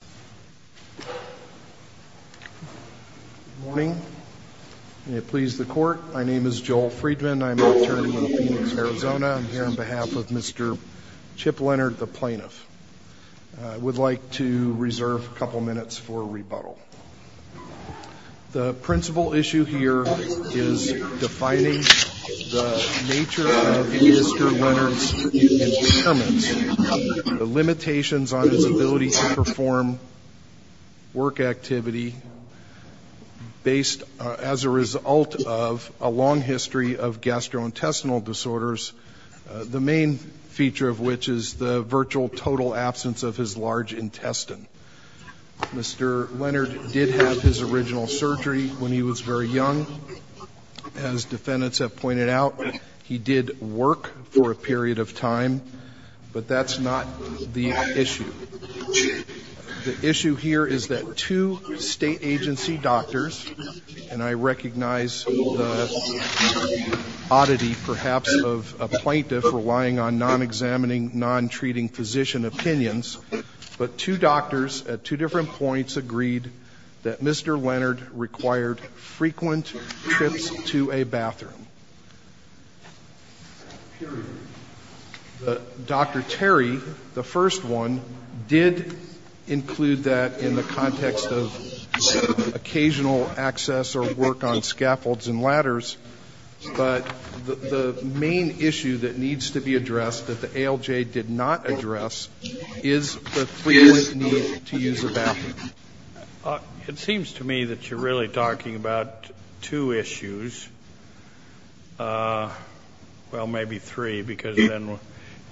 Good morning. May it please the court, my name is Joel Friedman. I'm an attorney with Phoenix, Arizona. I'm here on behalf of Mr. Chip Leonard, the plaintiff. I would like to reserve a couple minutes for rebuttal. The principal issue here is defining the nature of Mr. Leonard's impairments, the limitations on his ability to perform work activity based as a result of a long history of gastrointestinal disorders, the main feature of which is the virtual total absence of his large intestine. Mr. Leonard did have his original surgery when he was very young. As defendants have pointed out, he did work for a period of time, but that's not the issue. The issue here is that two state agency doctors, and I recognize the oddity perhaps of a plaintiff relying on non-examining, non-treating physician opinions, but two doctors at two different points agreed that Mr. Leonard required frequent trips to a bathroom. Period. Dr. Terry, the first one, did include that in the context of occasional access or work on scaffolds and ladders, but the main issue that needs to be addressed that the ALJ did not address is the frequent need to use a bathroom. It seems to me that you're really talking about two issues. Well, maybe three, because then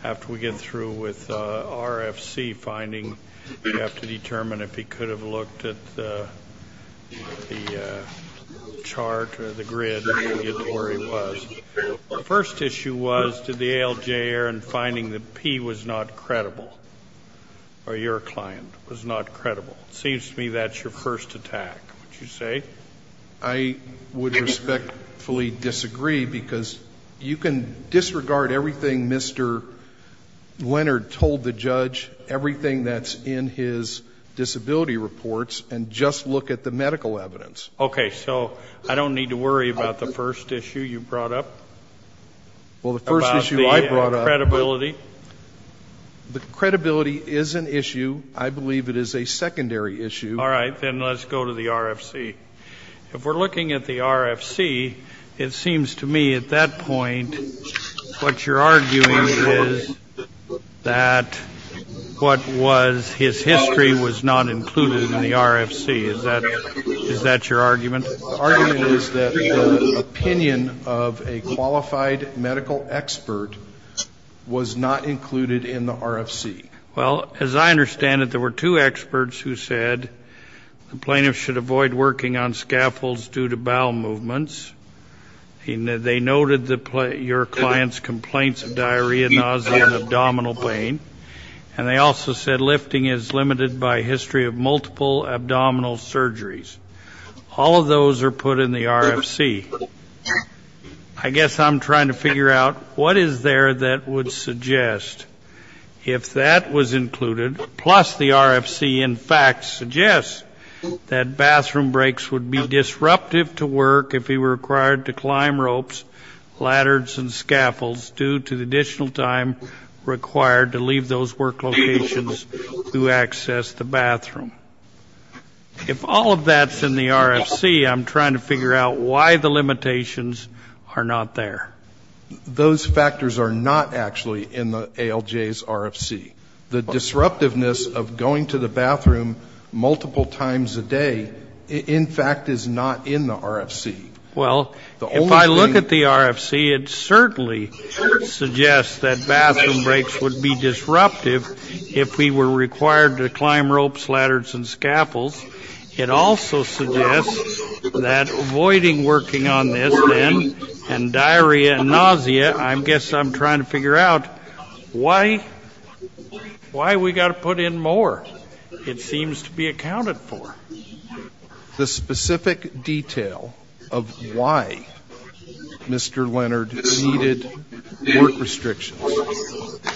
after we get through with RFC finding, you have to determine if he could have looked at the chart or the grid to get to where he was. The first issue was, did the ALJ, Aaron Leonard, find that P was not credible, or your client was not credible? It seems to me that's your first attack, would you say? I would respectfully disagree, because you can disregard everything Mr. Leonard told the judge, everything that's in his disability reports, and just look at the medical evidence. Okay, so I don't need to worry about the first issue you brought up? Well, the first issue I brought up the credibility is an issue, I believe it is a secondary issue. All right, then let's go to the RFC. If we're looking at the RFC, it seems to me at that point what you're arguing is that what was his history was not included in the RFC. Is that what you're saying, that the medical expert was not included in the RFC? Well, as I understand it, there were two experts who said the plaintiff should avoid working on scaffolds due to bowel movements. They noted your client's complaints of diarrhea, nausea, and abdominal pain, and they also said lifting is limited by history of multiple abdominal surgeries. All of those are put in the RFC. I guess I'm trying to figure out what is there that would suggest if that was included, plus the RFC in fact suggests that bathroom breaks would be disruptive to work if he were required to climb ropes, ladders, and scaffolds due to the additional time required to leave those work locations to access the bathroom. If all of that's in the RFC, I'm trying to figure out why the limitations are not there. Those factors are not actually in the ALJ's RFC. The disruptiveness of going to the bathroom multiple times a day in fact is not in the RFC. Well, if I look at the RFC, it certainly suggests that bathroom breaks would be disruptive if he were required to climb ropes, ladders, and scaffolds. It also suggests that avoiding working on this then, and diarrhea and nausea, I guess I'm trying to figure out why we've got to put in more. It seems to be accounted for. The specific detail of why Mr. Leonard needed work restrictions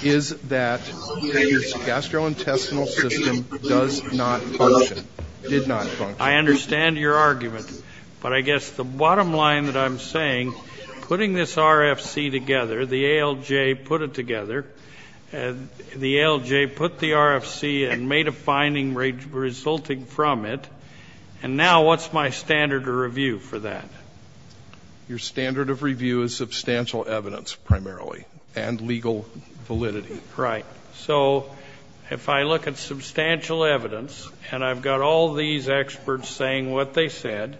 is that his gastrointestinal system does not function, did not function. I understand your argument, but I guess the bottom line that I'm saying, putting this RFC together, the ALJ put it together, the ALJ put the RFC and made a finding resulting from it, and now what's my standard of review for that? Your standard of review is substantial evidence, primarily, and legal validity. Right. So if I look at substantial evidence, and I've got all these experts saying what they said,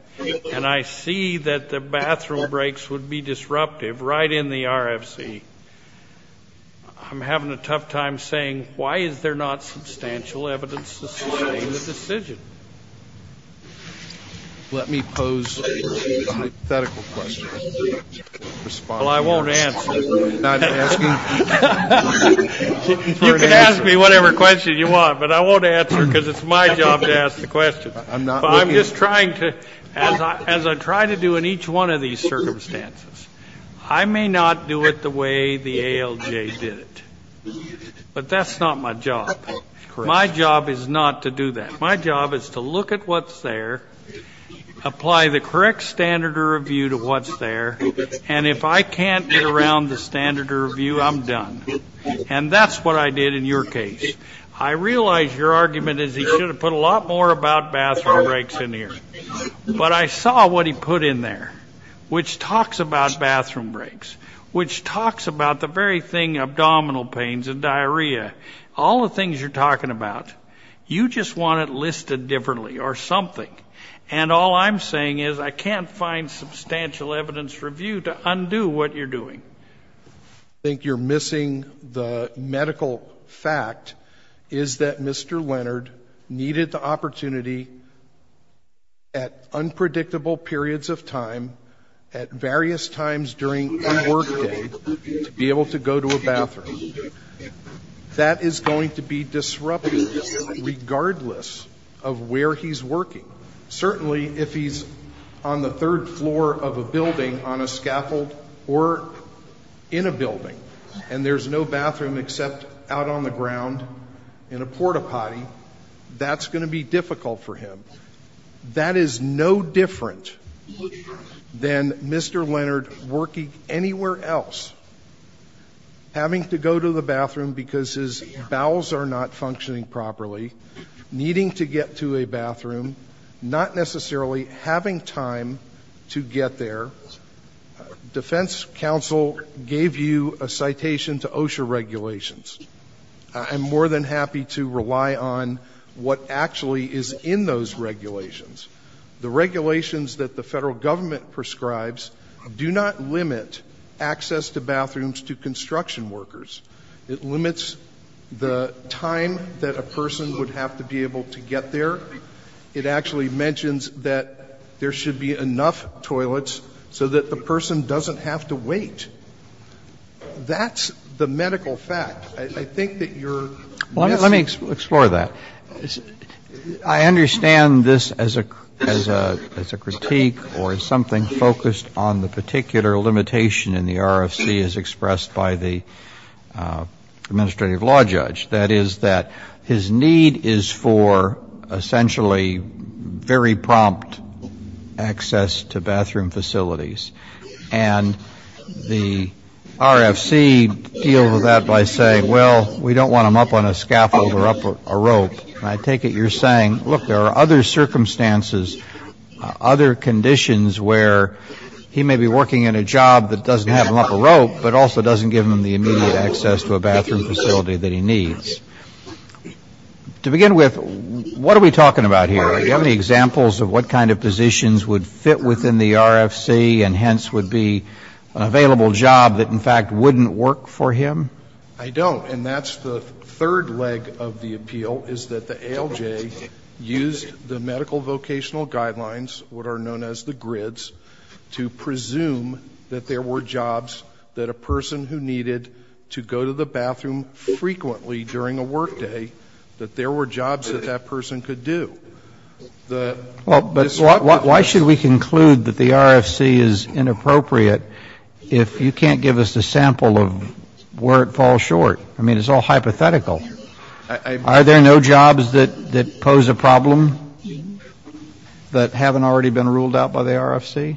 and I see that the bathroom breaks would be disruptive right in the RFC, I'm having a tough time saying why is there not substantial evidence to sustain the decision? Let me pose a hypothetical question. Well, I won't answer. You can ask me whatever question you want, but I won't answer because it's my job to ask the question. I'm just trying to, as I try to do in each one of these circumstances, I may not do it the way the ALJ did it, but that's not my job. My job is not to do that. My job is to look at what's there, apply the correct standard of review to what's there, and if I can't get around the standard of review, I'm done, and that's what I did in your case. I realize your argument is he should have put a lot more about bathroom breaks in here, but I saw what he put in there, which talks about bathroom breaks, which talks about the very thing, abdominal pains and diarrhea, all the things you're talking about. You just want it listed differently or something, and all I'm saying is I can't find substantial evidence review to undo what you're doing. I think you're missing the medical fact is that Mr. Leonard needed the opportunity at unpredictable periods of time at various times during a work day to be able to go to a bathroom. That is going to be disruptive regardless of where he's working. Certainly, if he's on the third floor of a building on a scaffold or in a building and there's no bathroom except out on the ground in a porta potty, that's going to be difficult for him. That is no different than Mr. Leonard working anywhere else, having to go to a bathroom, having to go to the bathroom because his bowels are not functioning properly, needing to get to a bathroom, not necessarily having time to get there. Defense counsel gave you a citation to OSHA regulations. I'm more than happy to rely on what actually is in those regulations. The regulations that the federal government prescribes do not limit access to bathrooms to construction workers. It limits the time that a person would have to be able to get there. It actually mentions that there should be enough toilets so that the person doesn't have to wait. That's the medical fact. I think that you're missing the medical fact. Let me explore that. I understand this as a critique or as something focused on the particular limitation in the RFC as expressed by the administrative law judge. That is that his need is for essentially very prompt access to bathroom facilities. And the RFC deal with that by saying, well, we don't want him up on a scaffold or up a rope. And I take it you're saying, look, there are other circumstances, other conditions where he may be working in a job that doesn't have him up a rope but also doesn't give him the immediate access to a bathroom facility that he needs. To begin with, what are we talking about here? Do you have any examples of what kind of positions would fit within the RFC and hence would be an available job that in fact wouldn't work for him? I don't. And that's the third leg of the appeal, is that the ALJ used the medical vocational guidelines, what are known as the grids, to presume that there were jobs that a person who needed to go to the bathroom frequently during a workday, that there were jobs that that person could do. But why should we conclude that the RFC is inappropriate if you can't give us a sample of work that the person could do? I mean, it's all hypothetical. Are there no jobs that pose a problem that haven't already been ruled out by the RFC?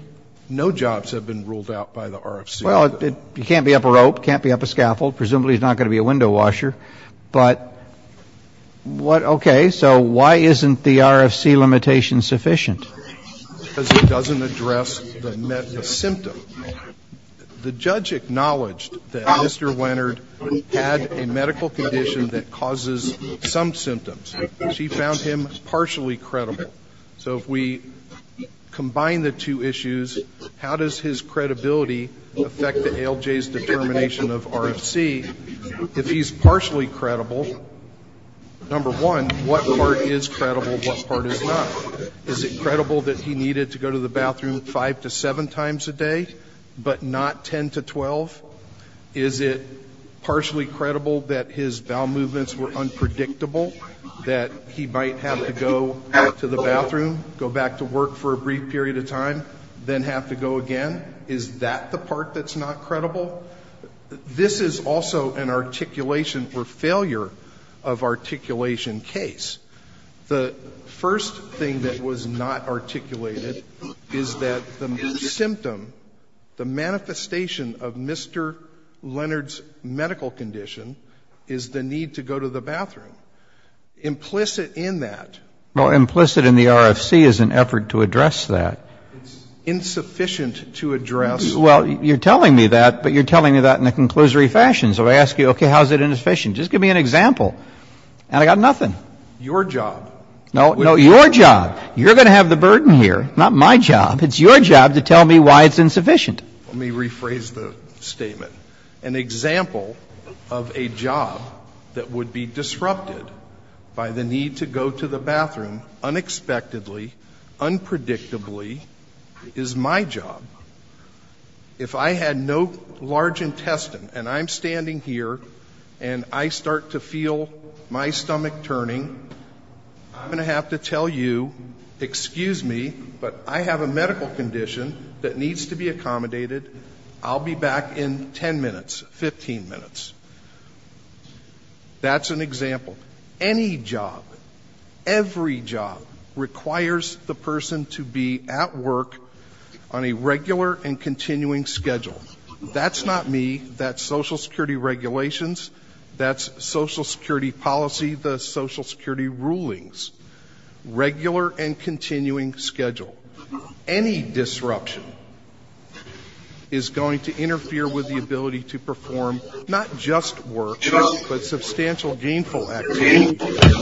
No jobs have been ruled out by the RFC. Well, you can't be up a rope, can't be up a scaffold. Presumably he's not going to be a window washer. But, okay, so why isn't the RFC limitation sufficient? Because it doesn't address the symptom. The judge acknowledged that Mr. Leonard had a medical condition that causes some symptoms. She found him partially credible. So if we combine the two issues, how does his credibility affect the ALJ's determination of RFC? If he's partially credible, number one, what part is credible, what part is not? Is it credible that he needed to go to the bathroom five to seven times a day, but not 10 to 12? Is it partially credible that his bowel movements were unpredictable, that he might have to go to the bathroom, go back to work for a brief period of time, then have to go again? Is that the part that's not credible? This is also an articulation or failure of articulation case. The first thing that was not articulated is that the symptom, the manifestation of Mr. Leonard's medical condition is the need to go to the bathroom. Implicit in that. Well, implicit in the RFC is an effort to address that. It's insufficient to address. Well, you're telling me that, but you're telling me that in a conclusory fashion. So I ask you, okay, how is it insufficient? Just give me an example. And I got nothing. Your job. No, no. Your job. You're going to have the burden here. Not my job. It's your job to tell me why it's insufficient. Let me rephrase the statement. An example of a job that would be disrupted by the need to go to the bathroom unexpectedly, unpredictably is my job. If I had no large intestine and I'm standing here and I start to feel my stomach turning, I'm going to have to tell you, excuse me, but I have a medical condition that needs to be accommodated. I'll be back in 10 minutes, 15 minutes. That's an example. Any job, every job requires the person to be at work on a regular and continuing schedule. That's not me. That's Social Security regulations. That's Social Security policy, the Social Security rulings. Regular and continuing schedule. Any disruption is going to interfere with the ability to perform not just work, but substantial gainful activity,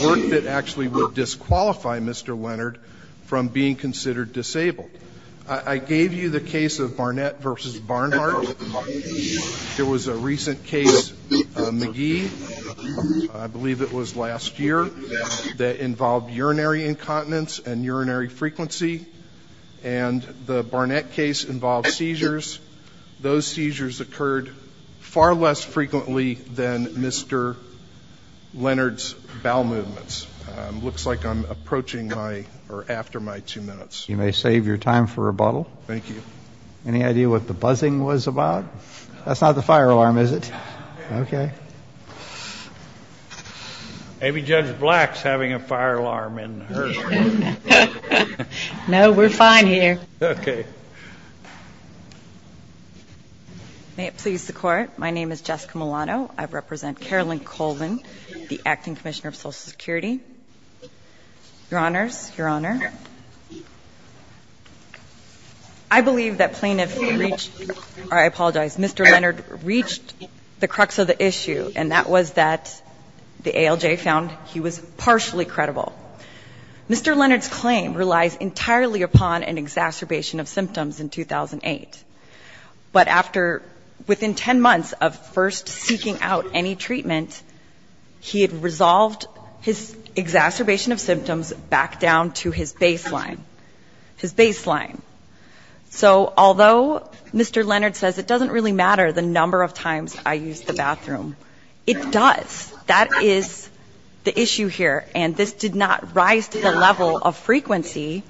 work that actually would disqualify Mr. Leonard from being considered disabled. I gave you the case of Barnett versus Barnhart. There was a recent case, McGee, I believe it was last year, that involved urinary incontinence and urinary frequency. And the Barnett case involved seizures. Those seizures occurred far less frequently than Mr. Leonard's bowel movements. Looks like I'm approaching my, or after my two minutes. You may save your time for rebuttal. Thank you. Any idea what the buzzing was about? That's not the fire alarm, is it? Okay. Maybe Judge Black's having a fire alarm in her. No, we're fine here. Okay. May it please the Court. My name is Jessica Milano. I represent Carolyn Colvin, the Acting Commissioner of Social Security. Your Honors. Your Honor. I believe that plaintiff reached or I apologize, Mr. Leonard reached the crux of the issue, and that was that the ALJ found he was partially credible. Mr. Leonard's claim relies entirely upon an exacerbation of symptoms in 2008. But after, within 10 months of first seeking out any treatment, he had resolved his exacerbation of symptoms back down to his baseline. His baseline. So although Mr. Leonard says it doesn't really matter the number of times I used the bathroom, it does. That is the issue here. And this did not rise to the level of frequency.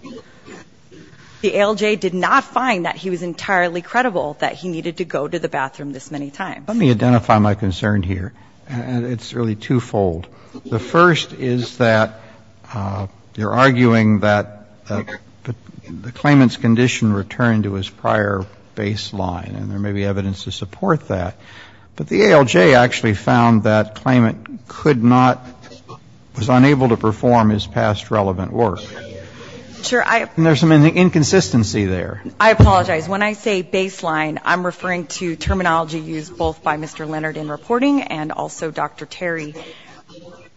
The ALJ did not find that he was entirely credible that he needed to go to the bathroom this many times. Let me identify my concern here. It's really twofold. The first is that you're arguing that the claimant's condition returned to his prior baseline, and there may be evidence to support that. But the ALJ actually found that claimant could not, was unable to perform his past relevant work. And there's some inconsistency there. I apologize. When I say baseline, I'm referring to terminology used both by Mr. Leonard in reporting and also Dr. Terry.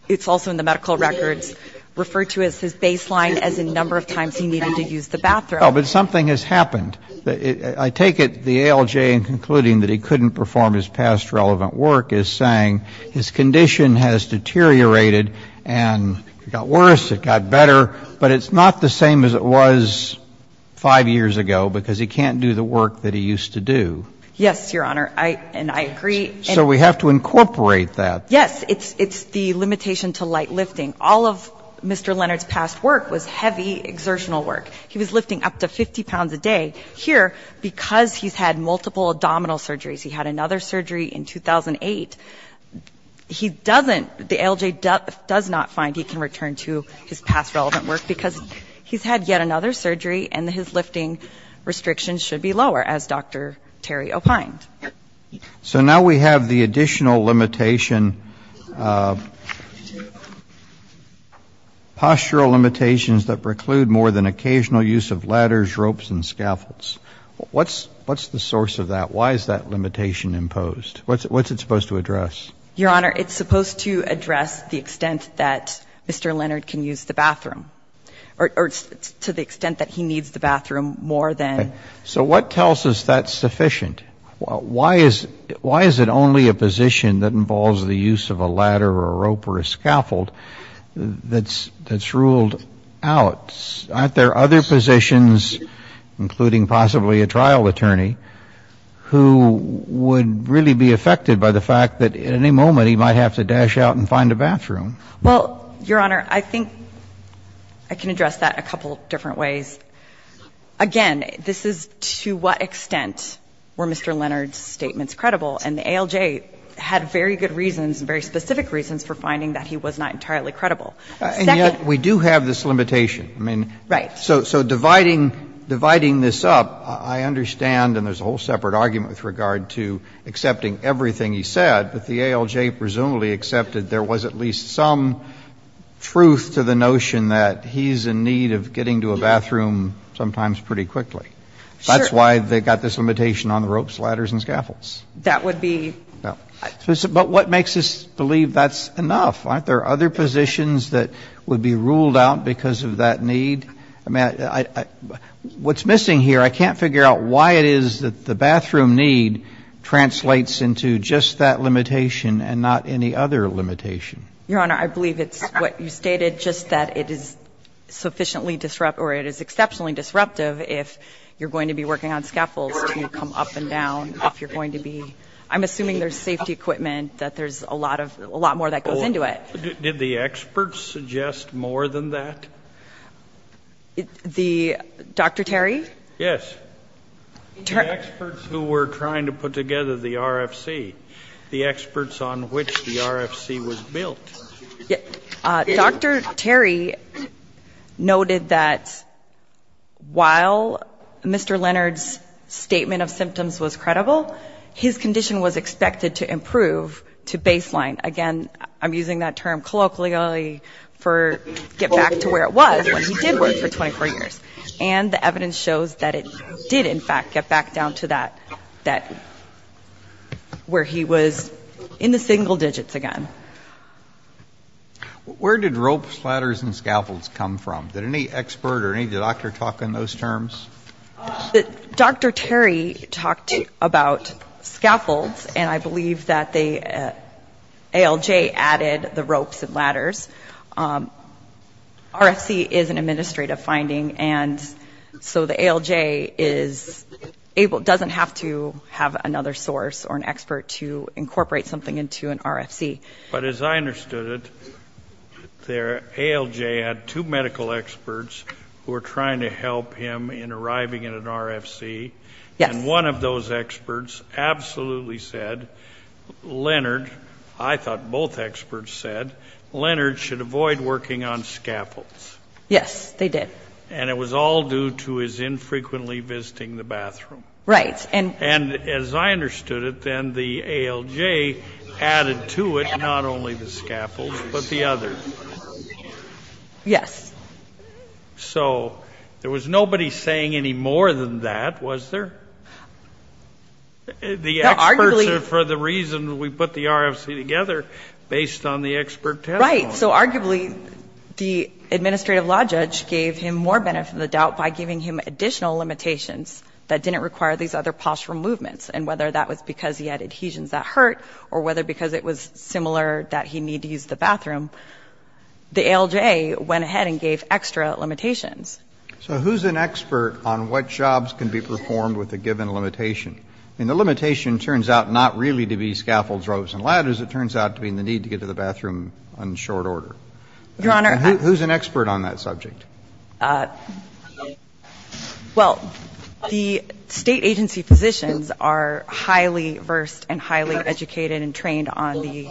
It's also in the medical records referred to as his baseline as in number of times he needed to use the bathroom. Well, but something has happened. I take it the ALJ, in concluding that he couldn't perform his past relevant work, is saying his condition has deteriorated and it got worse, it got better, but it's not the same as it was 5 years ago because he can't do the work that he used to do. Yes, Your Honor. And I agree. So we have to incorporate that. Yes. It's the limitation to light lifting. All of Mr. Leonard's past work was heavy exertional work. He was lifting up to 50 pounds a day. Here, because he's had multiple abdominal surgeries, he had another surgery in 2008, he doesn't, the ALJ does not find he can return to his past relevant work because he's had yet another surgery and his lifting restrictions should be lower, as Dr. Terry opined. So now we have the additional limitation, postural limitations that preclude more than occasional use of ladders, ropes and scaffolds. What's the source of that? Why is that limitation imposed? What's it supposed to address? Your Honor, it's supposed to address the extent that Mr. Leonard can use the bathroom or to the extent that he needs the bathroom more than. So what tells us that's sufficient? Why is it only a position that involves the use of a ladder or a rope or a scaffold that's ruled out? Aren't there other positions, including possibly a trial attorney, who would really be affected by the fact that at any moment he might have to dash out and find a bathroom? Well, Your Honor, I think I can address that a couple different ways. Again, this is to what extent were Mr. Leonard's statements credible, and the ALJ had very good reasons, very specific reasons for finding that he was not entirely credible. And yet we do have this limitation. I mean, so dividing this up, I understand, and there's a whole separate argument with regard to accepting everything he said, but the ALJ presumably accepted there was at least some truth to the notion that he's in need of getting to a bathroom sometimes pretty quickly. That's why they got this limitation on the ropes, ladders and scaffolds. That would be ---- But what makes us believe that's enough? Aren't there other positions that would be ruled out because of that need? I mean, what's missing here, I can't figure out why it is that the bathroom need translates into just that limitation and not any other limitation. Your Honor, I believe it's what you stated, just that it is sufficiently disruptive or it is exceptionally disruptive if you're going to be working on scaffolds to come up and down, if you're going to be ---- I'm assuming there's safety equipment, that there's a lot more that goes into it. Did the experts suggest more than that? Dr. Terry? Yes. The experts who were trying to put together the RFC, the experts on which the RFC was built. Dr. Terry noted that while Mr. Leonard's statement of symptoms was credible, his condition was expected to improve to baseline. Again, I'm using that term colloquially for get back to where it was when he did work for 24 years. And the evidence shows that it did, in fact, get back down to that where he was in the single digits again. Where did ropes, ladders, and scaffolds come from? Did any expert or any doctor talk on those terms? Dr. Terry talked about scaffolds, and I believe that the ALJ added the ropes and ladders. RFC is an administrative finding, and so the ALJ doesn't have to have another source or an expert to incorporate something into an RFC. But as I understood it, the ALJ had two medical experts who were trying to help him in arriving in an RFC. Yes. And one of those experts absolutely said Leonard, I thought both experts said, Leonard should avoid working on scaffolds. Yes, they did. And it was all due to his infrequently visiting the bathroom. Right. And as I understood it, then the ALJ added to it not only the scaffolds, but the others. Yes. So there was nobody saying any more than that, was there? The experts are for the reason we put the RFC together based on the expert testimony. Right. So arguably the administrative law judge gave him more benefit than the doubt by giving him additional limitations that didn't require these other postural movements. And whether that was because he had adhesions that hurt or whether because it was similar that he needed to use the bathroom, the ALJ went ahead and gave extra limitations. So who's an expert on what jobs can be performed with a given limitation? I mean, the limitation turns out not really to be scaffolds, ropes, and ladders. It turns out to be the need to get to the bathroom on short order. Your Honor, I ---- Who's an expert on that subject? Well, the State agency physicians are highly versed and highly educated and trained on the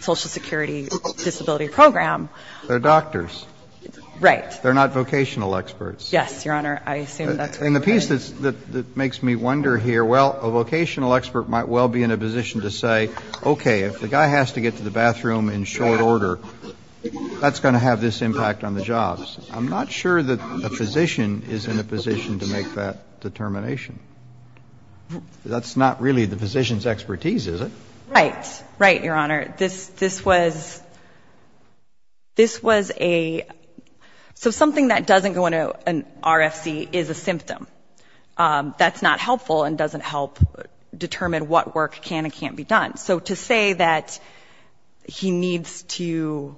Social Security Disability Program. They're doctors. Right. They're not vocational experts. Yes, Your Honor. I assume that's correct. And the piece that makes me wonder here, well, a vocational expert might well be in a position to say, okay, if the guy has to get to the bathroom in short order, that's going to have this impact on the jobs. I'm not sure that a physician is in a position to make that determination. That's not really the physician's expertise, is it? Right. Right, Your Honor. This was ---- this was a ---- so something that doesn't go into an RFC is a symptom. That's not helpful and doesn't help determine what work can and can't be done. So to say that he needs to, you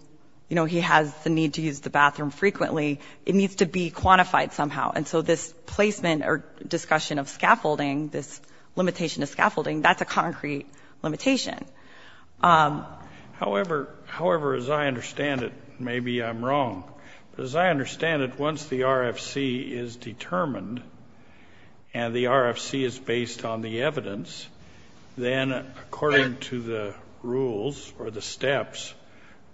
know, he has the need to use the bathroom frequently, it needs to be quantified somehow. And so this placement or discussion of scaffolding, this limitation of scaffolding, that's a concrete limitation. However, as I understand it, maybe I'm wrong, but as I understand it, once the RFC is or the steps,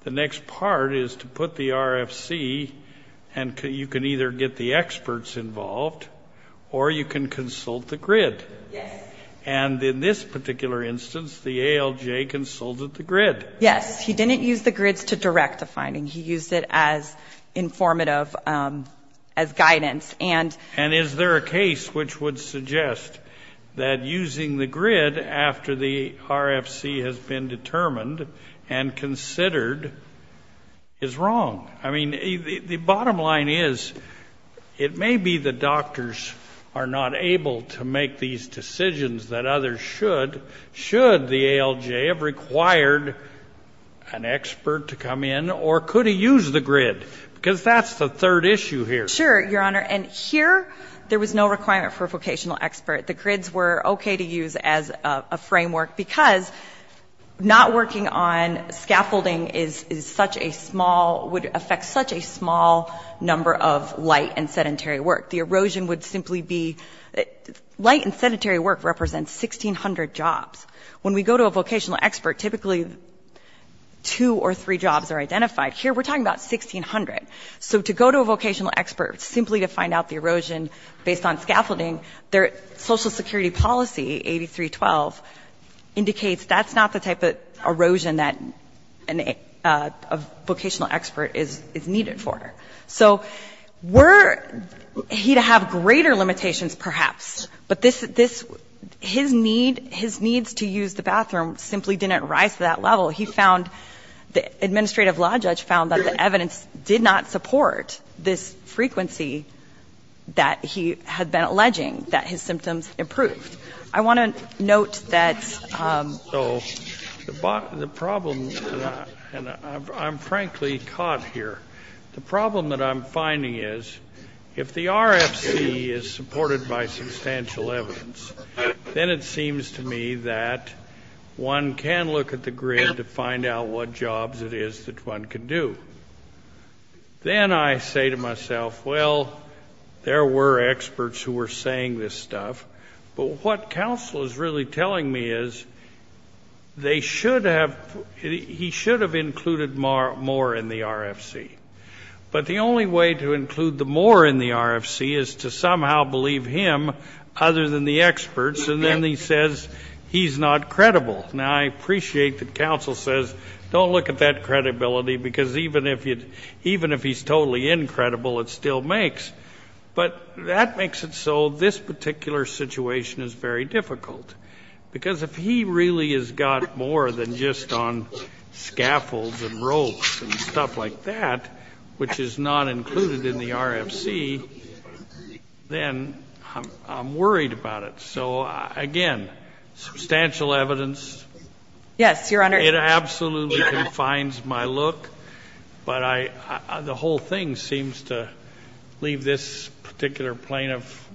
the next part is to put the RFC and you can either get the experts involved or you can consult the grid. Yes. And in this particular instance, the ALJ consulted the grid. Yes. He didn't use the grids to direct the finding. He used it as informative, as guidance. And is there a case which would suggest that using the grid after the RFC has been determined and considered is wrong? I mean, the bottom line is it may be the doctors are not able to make these decisions that others should, should the ALJ have required an expert to come in or could he use the grid? Because that's the third issue here. Sure, Your Honor. And here there was no requirement for a vocational expert. The grids were okay to use as a framework because not working on scaffolding is such a small, would affect such a small number of light and sedentary work. The erosion would simply be, light and sedentary work represents 1,600 jobs. When we go to a vocational expert, typically two or three jobs are identified. Here we're talking about 1,600. So to go to a vocational expert simply to find out the erosion based on scaffolding, their social security policy, 8312, indicates that's not the type of erosion that a vocational expert is needed for. So we're, he'd have greater limitations perhaps. But this, his need, his needs to use the bathroom simply didn't rise to that level. He found, the administrative law judge found that the evidence did not support this frequency that he had been alleging that his symptoms improved. I want to note that the problem, and I'm frankly caught here, the problem that I'm finding is if the RFC is supported by substantial evidence, then it seems to me that one can look at the grid to find out what jobs it is that one can do. Then I say to myself, well, there were experts who were saying this stuff, but what counsel is really telling me is they should have, he should have included more in the RFC. But the only way to include the more in the RFC is to somehow believe him other than the experts, and then he says he's not credible. Now, I appreciate that counsel says don't look at that credibility, because even if he's totally incredible, it still makes. But that makes it so this particular situation is very difficult, because if he really has got more than just on scaffolds and ropes and stuff like that, which is not included in the RFC, then I'm worried about it. So, again, substantial evidence. Yes, Your Honor. It absolutely confines my look, but the whole thing seems to leave this particular plaintiff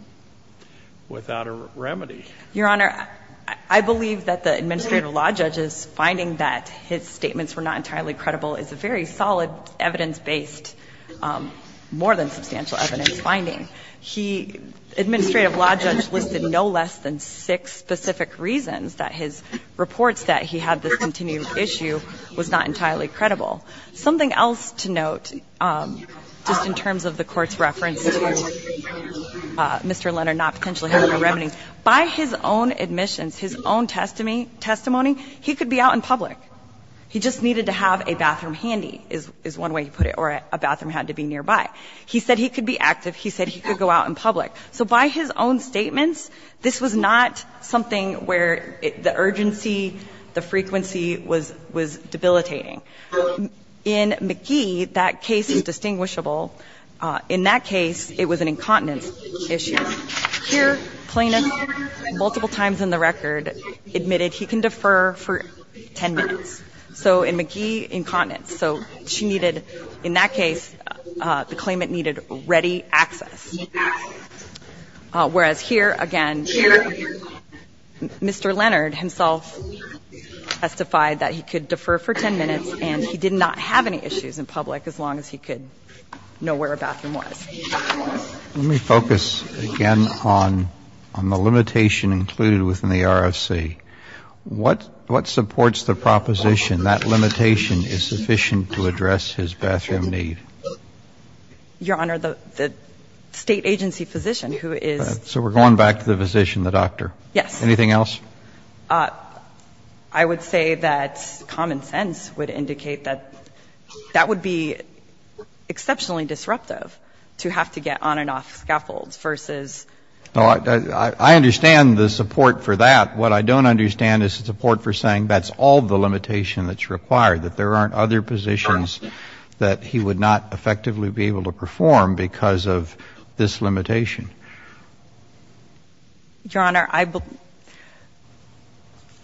without a remedy. Your Honor, I believe that the administrative law judge's finding that his statements were not entirely credible is a very solid evidence-based, more than substantial evidence finding. Administrative law judge listed no less than six specific reasons that his reports that he had this continued issue was not entirely credible. Something else to note, just in terms of the Court's reference to Mr. Leonard not potentially having a remedy. By his own admissions, his own testimony, he could be out in public. He just needed to have a bathroom handy, is one way to put it, or a bathroom had to be nearby. He said he could be active. He said he could go out in public. So by his own statements, this was not something where the urgency, the frequency was debilitating. In McGee, that case is distinguishable. In that case, it was an incontinence issue. Here, plaintiff, multiple times in the record, admitted he can defer for 10 minutes. So in McGee, incontinence. So she needed, in that case, the claimant needed ready access. Whereas here, again, Mr. Leonard himself testified that he could defer for 10 minutes and he did not have any issues in public as long as he could know where a bathroom was. Let me focus again on the limitation included within the RFC. What supports the proposition that limitation is sufficient to address his bathroom need? Your Honor, the State agency physician who is. So we're going back to the physician, the doctor. Yes. Anything else? I would say that common sense would indicate that that would be exceptionally disruptive to have to get on and off scaffolds versus. I understand the support for that. What I don't understand is the support for saying that's all the limitation that's required, that there aren't other positions that he would not effectively be able to perform because of this limitation. Your Honor, I believe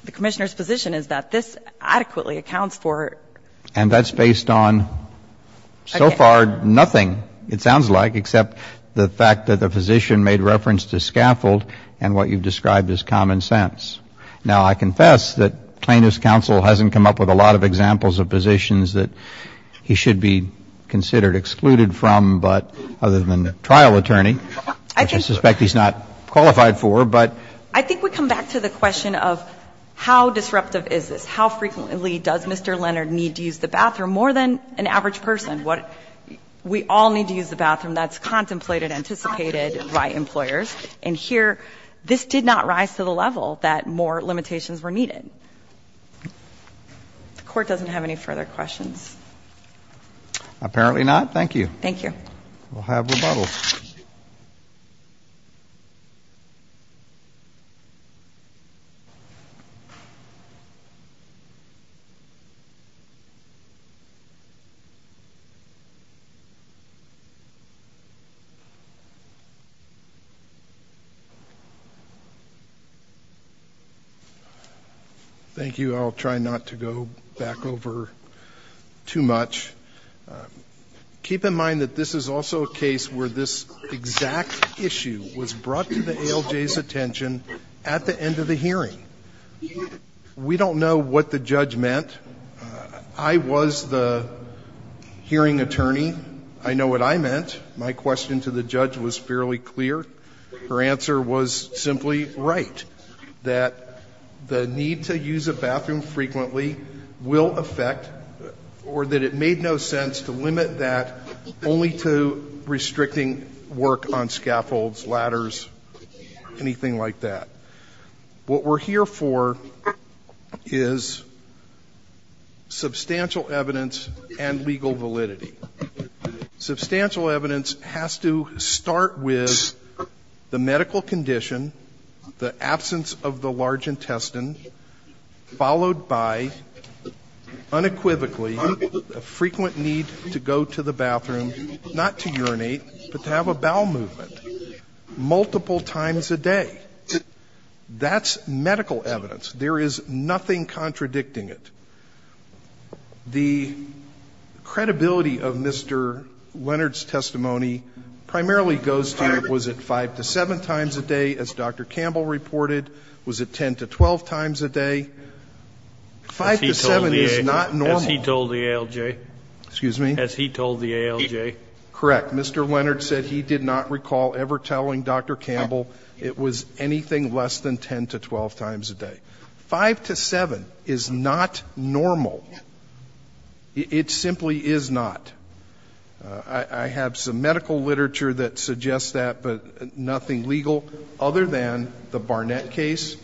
the Commissioner's position is that this adequately accounts for. And that's based on so far nothing, it sounds like, except the fact that the physician made reference to scaffold and what you've described as common sense. Now, I confess that plaintiff's counsel hasn't come up with a lot of examples of positions that he should be considered excluded from, but other than the trial attorney, which I suspect he's not qualified for, but. I think we come back to the question of how disruptive is this? How frequently does Mr. Leonard need to use the bathroom? More than an average person. We all need to use the bathroom. That's contemplated, anticipated by employers. And here, this did not rise to the level that more limitations were needed. The Court doesn't have any further questions. Apparently not. Thank you. Thank you. We'll have rebuttal. Thank you. I'll try not to go back over too much. Keep in mind that this is also a case where this exact issue was brought to the ALJ's attention at the end of the hearing. We don't know what the judge meant. I was the hearing attorney. I know what I meant. My question to the judge was fairly clear. Her answer was simply right, that the need to use a bathroom frequently will affect or that it made no sense to limit that only to restricting work on scaffolds, ladders, anything like that. What we're here for is substantial evidence and legal validity. Substantial evidence has to start with the medical condition, the absence of the large intestine, followed by unequivocally a frequent need to go to the bathroom not to urinate but to have a bowel movement multiple times a day. That's medical evidence. There is nothing contradicting it. The credibility of Mr. Leonard's testimony primarily goes to was it 5 to 7 times a day, as Dr. Campbell reported? Was it 10 to 12 times a day? 5 to 7 is not normal. As he told the ALJ. Excuse me? As he told the ALJ. Correct. Mr. Leonard said he did not recall ever telling Dr. Campbell it was anything less than 10 to 12 times a day. 5 to 7 is not normal. It simply is not. I have some medical literature that suggests that, but nothing legal other than the Barnett case,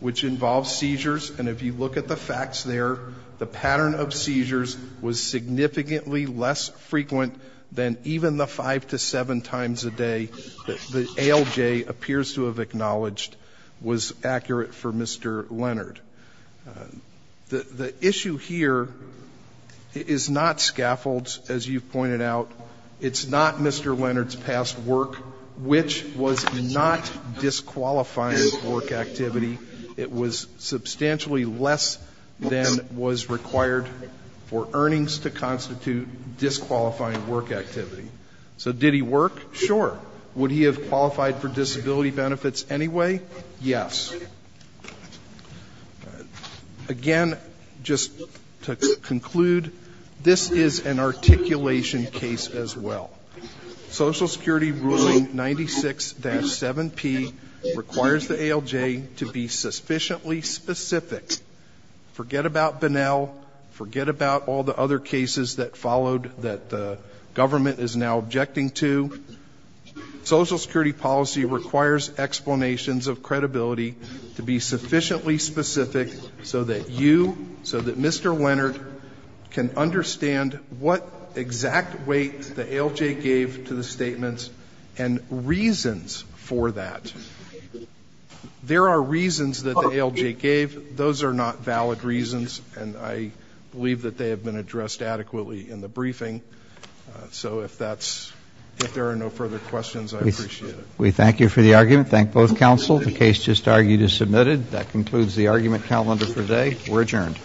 which involves seizures, and if you look at the facts there, the pattern of seizures was significantly less frequent than even the 5 to 7 times a day that the ALJ appears to have acknowledged was accurate for Mr. Leonard. The issue here is not scaffolds, as you've pointed out. It's not Mr. Leonard's past work, which was not disqualifying work activity. It was substantially less than was required for earnings to constitute disqualifying work activity. So did he work? Sure. Would he have qualified for disability benefits anyway? Yes. Again, just to conclude, this is an articulation case as well. Social Security ruling 96-7P requires the ALJ to be sufficiently specific. Forget about Bunnell. Forget about all the other cases that followed that the government is now objecting to. Social Security policy requires explanations of credibility to be sufficiently specific so that you, so that Mr. Leonard can understand what exact weight the ALJ gave to the statements and reasons for that. There are reasons that the ALJ gave. Those are not valid reasons, and I believe that they have been addressed adequately in the briefing. So if there are no further questions, I appreciate it. We thank you for the argument. Thank both counsel. The case just argued is submitted. That concludes the argument calendar for today. We're adjourned.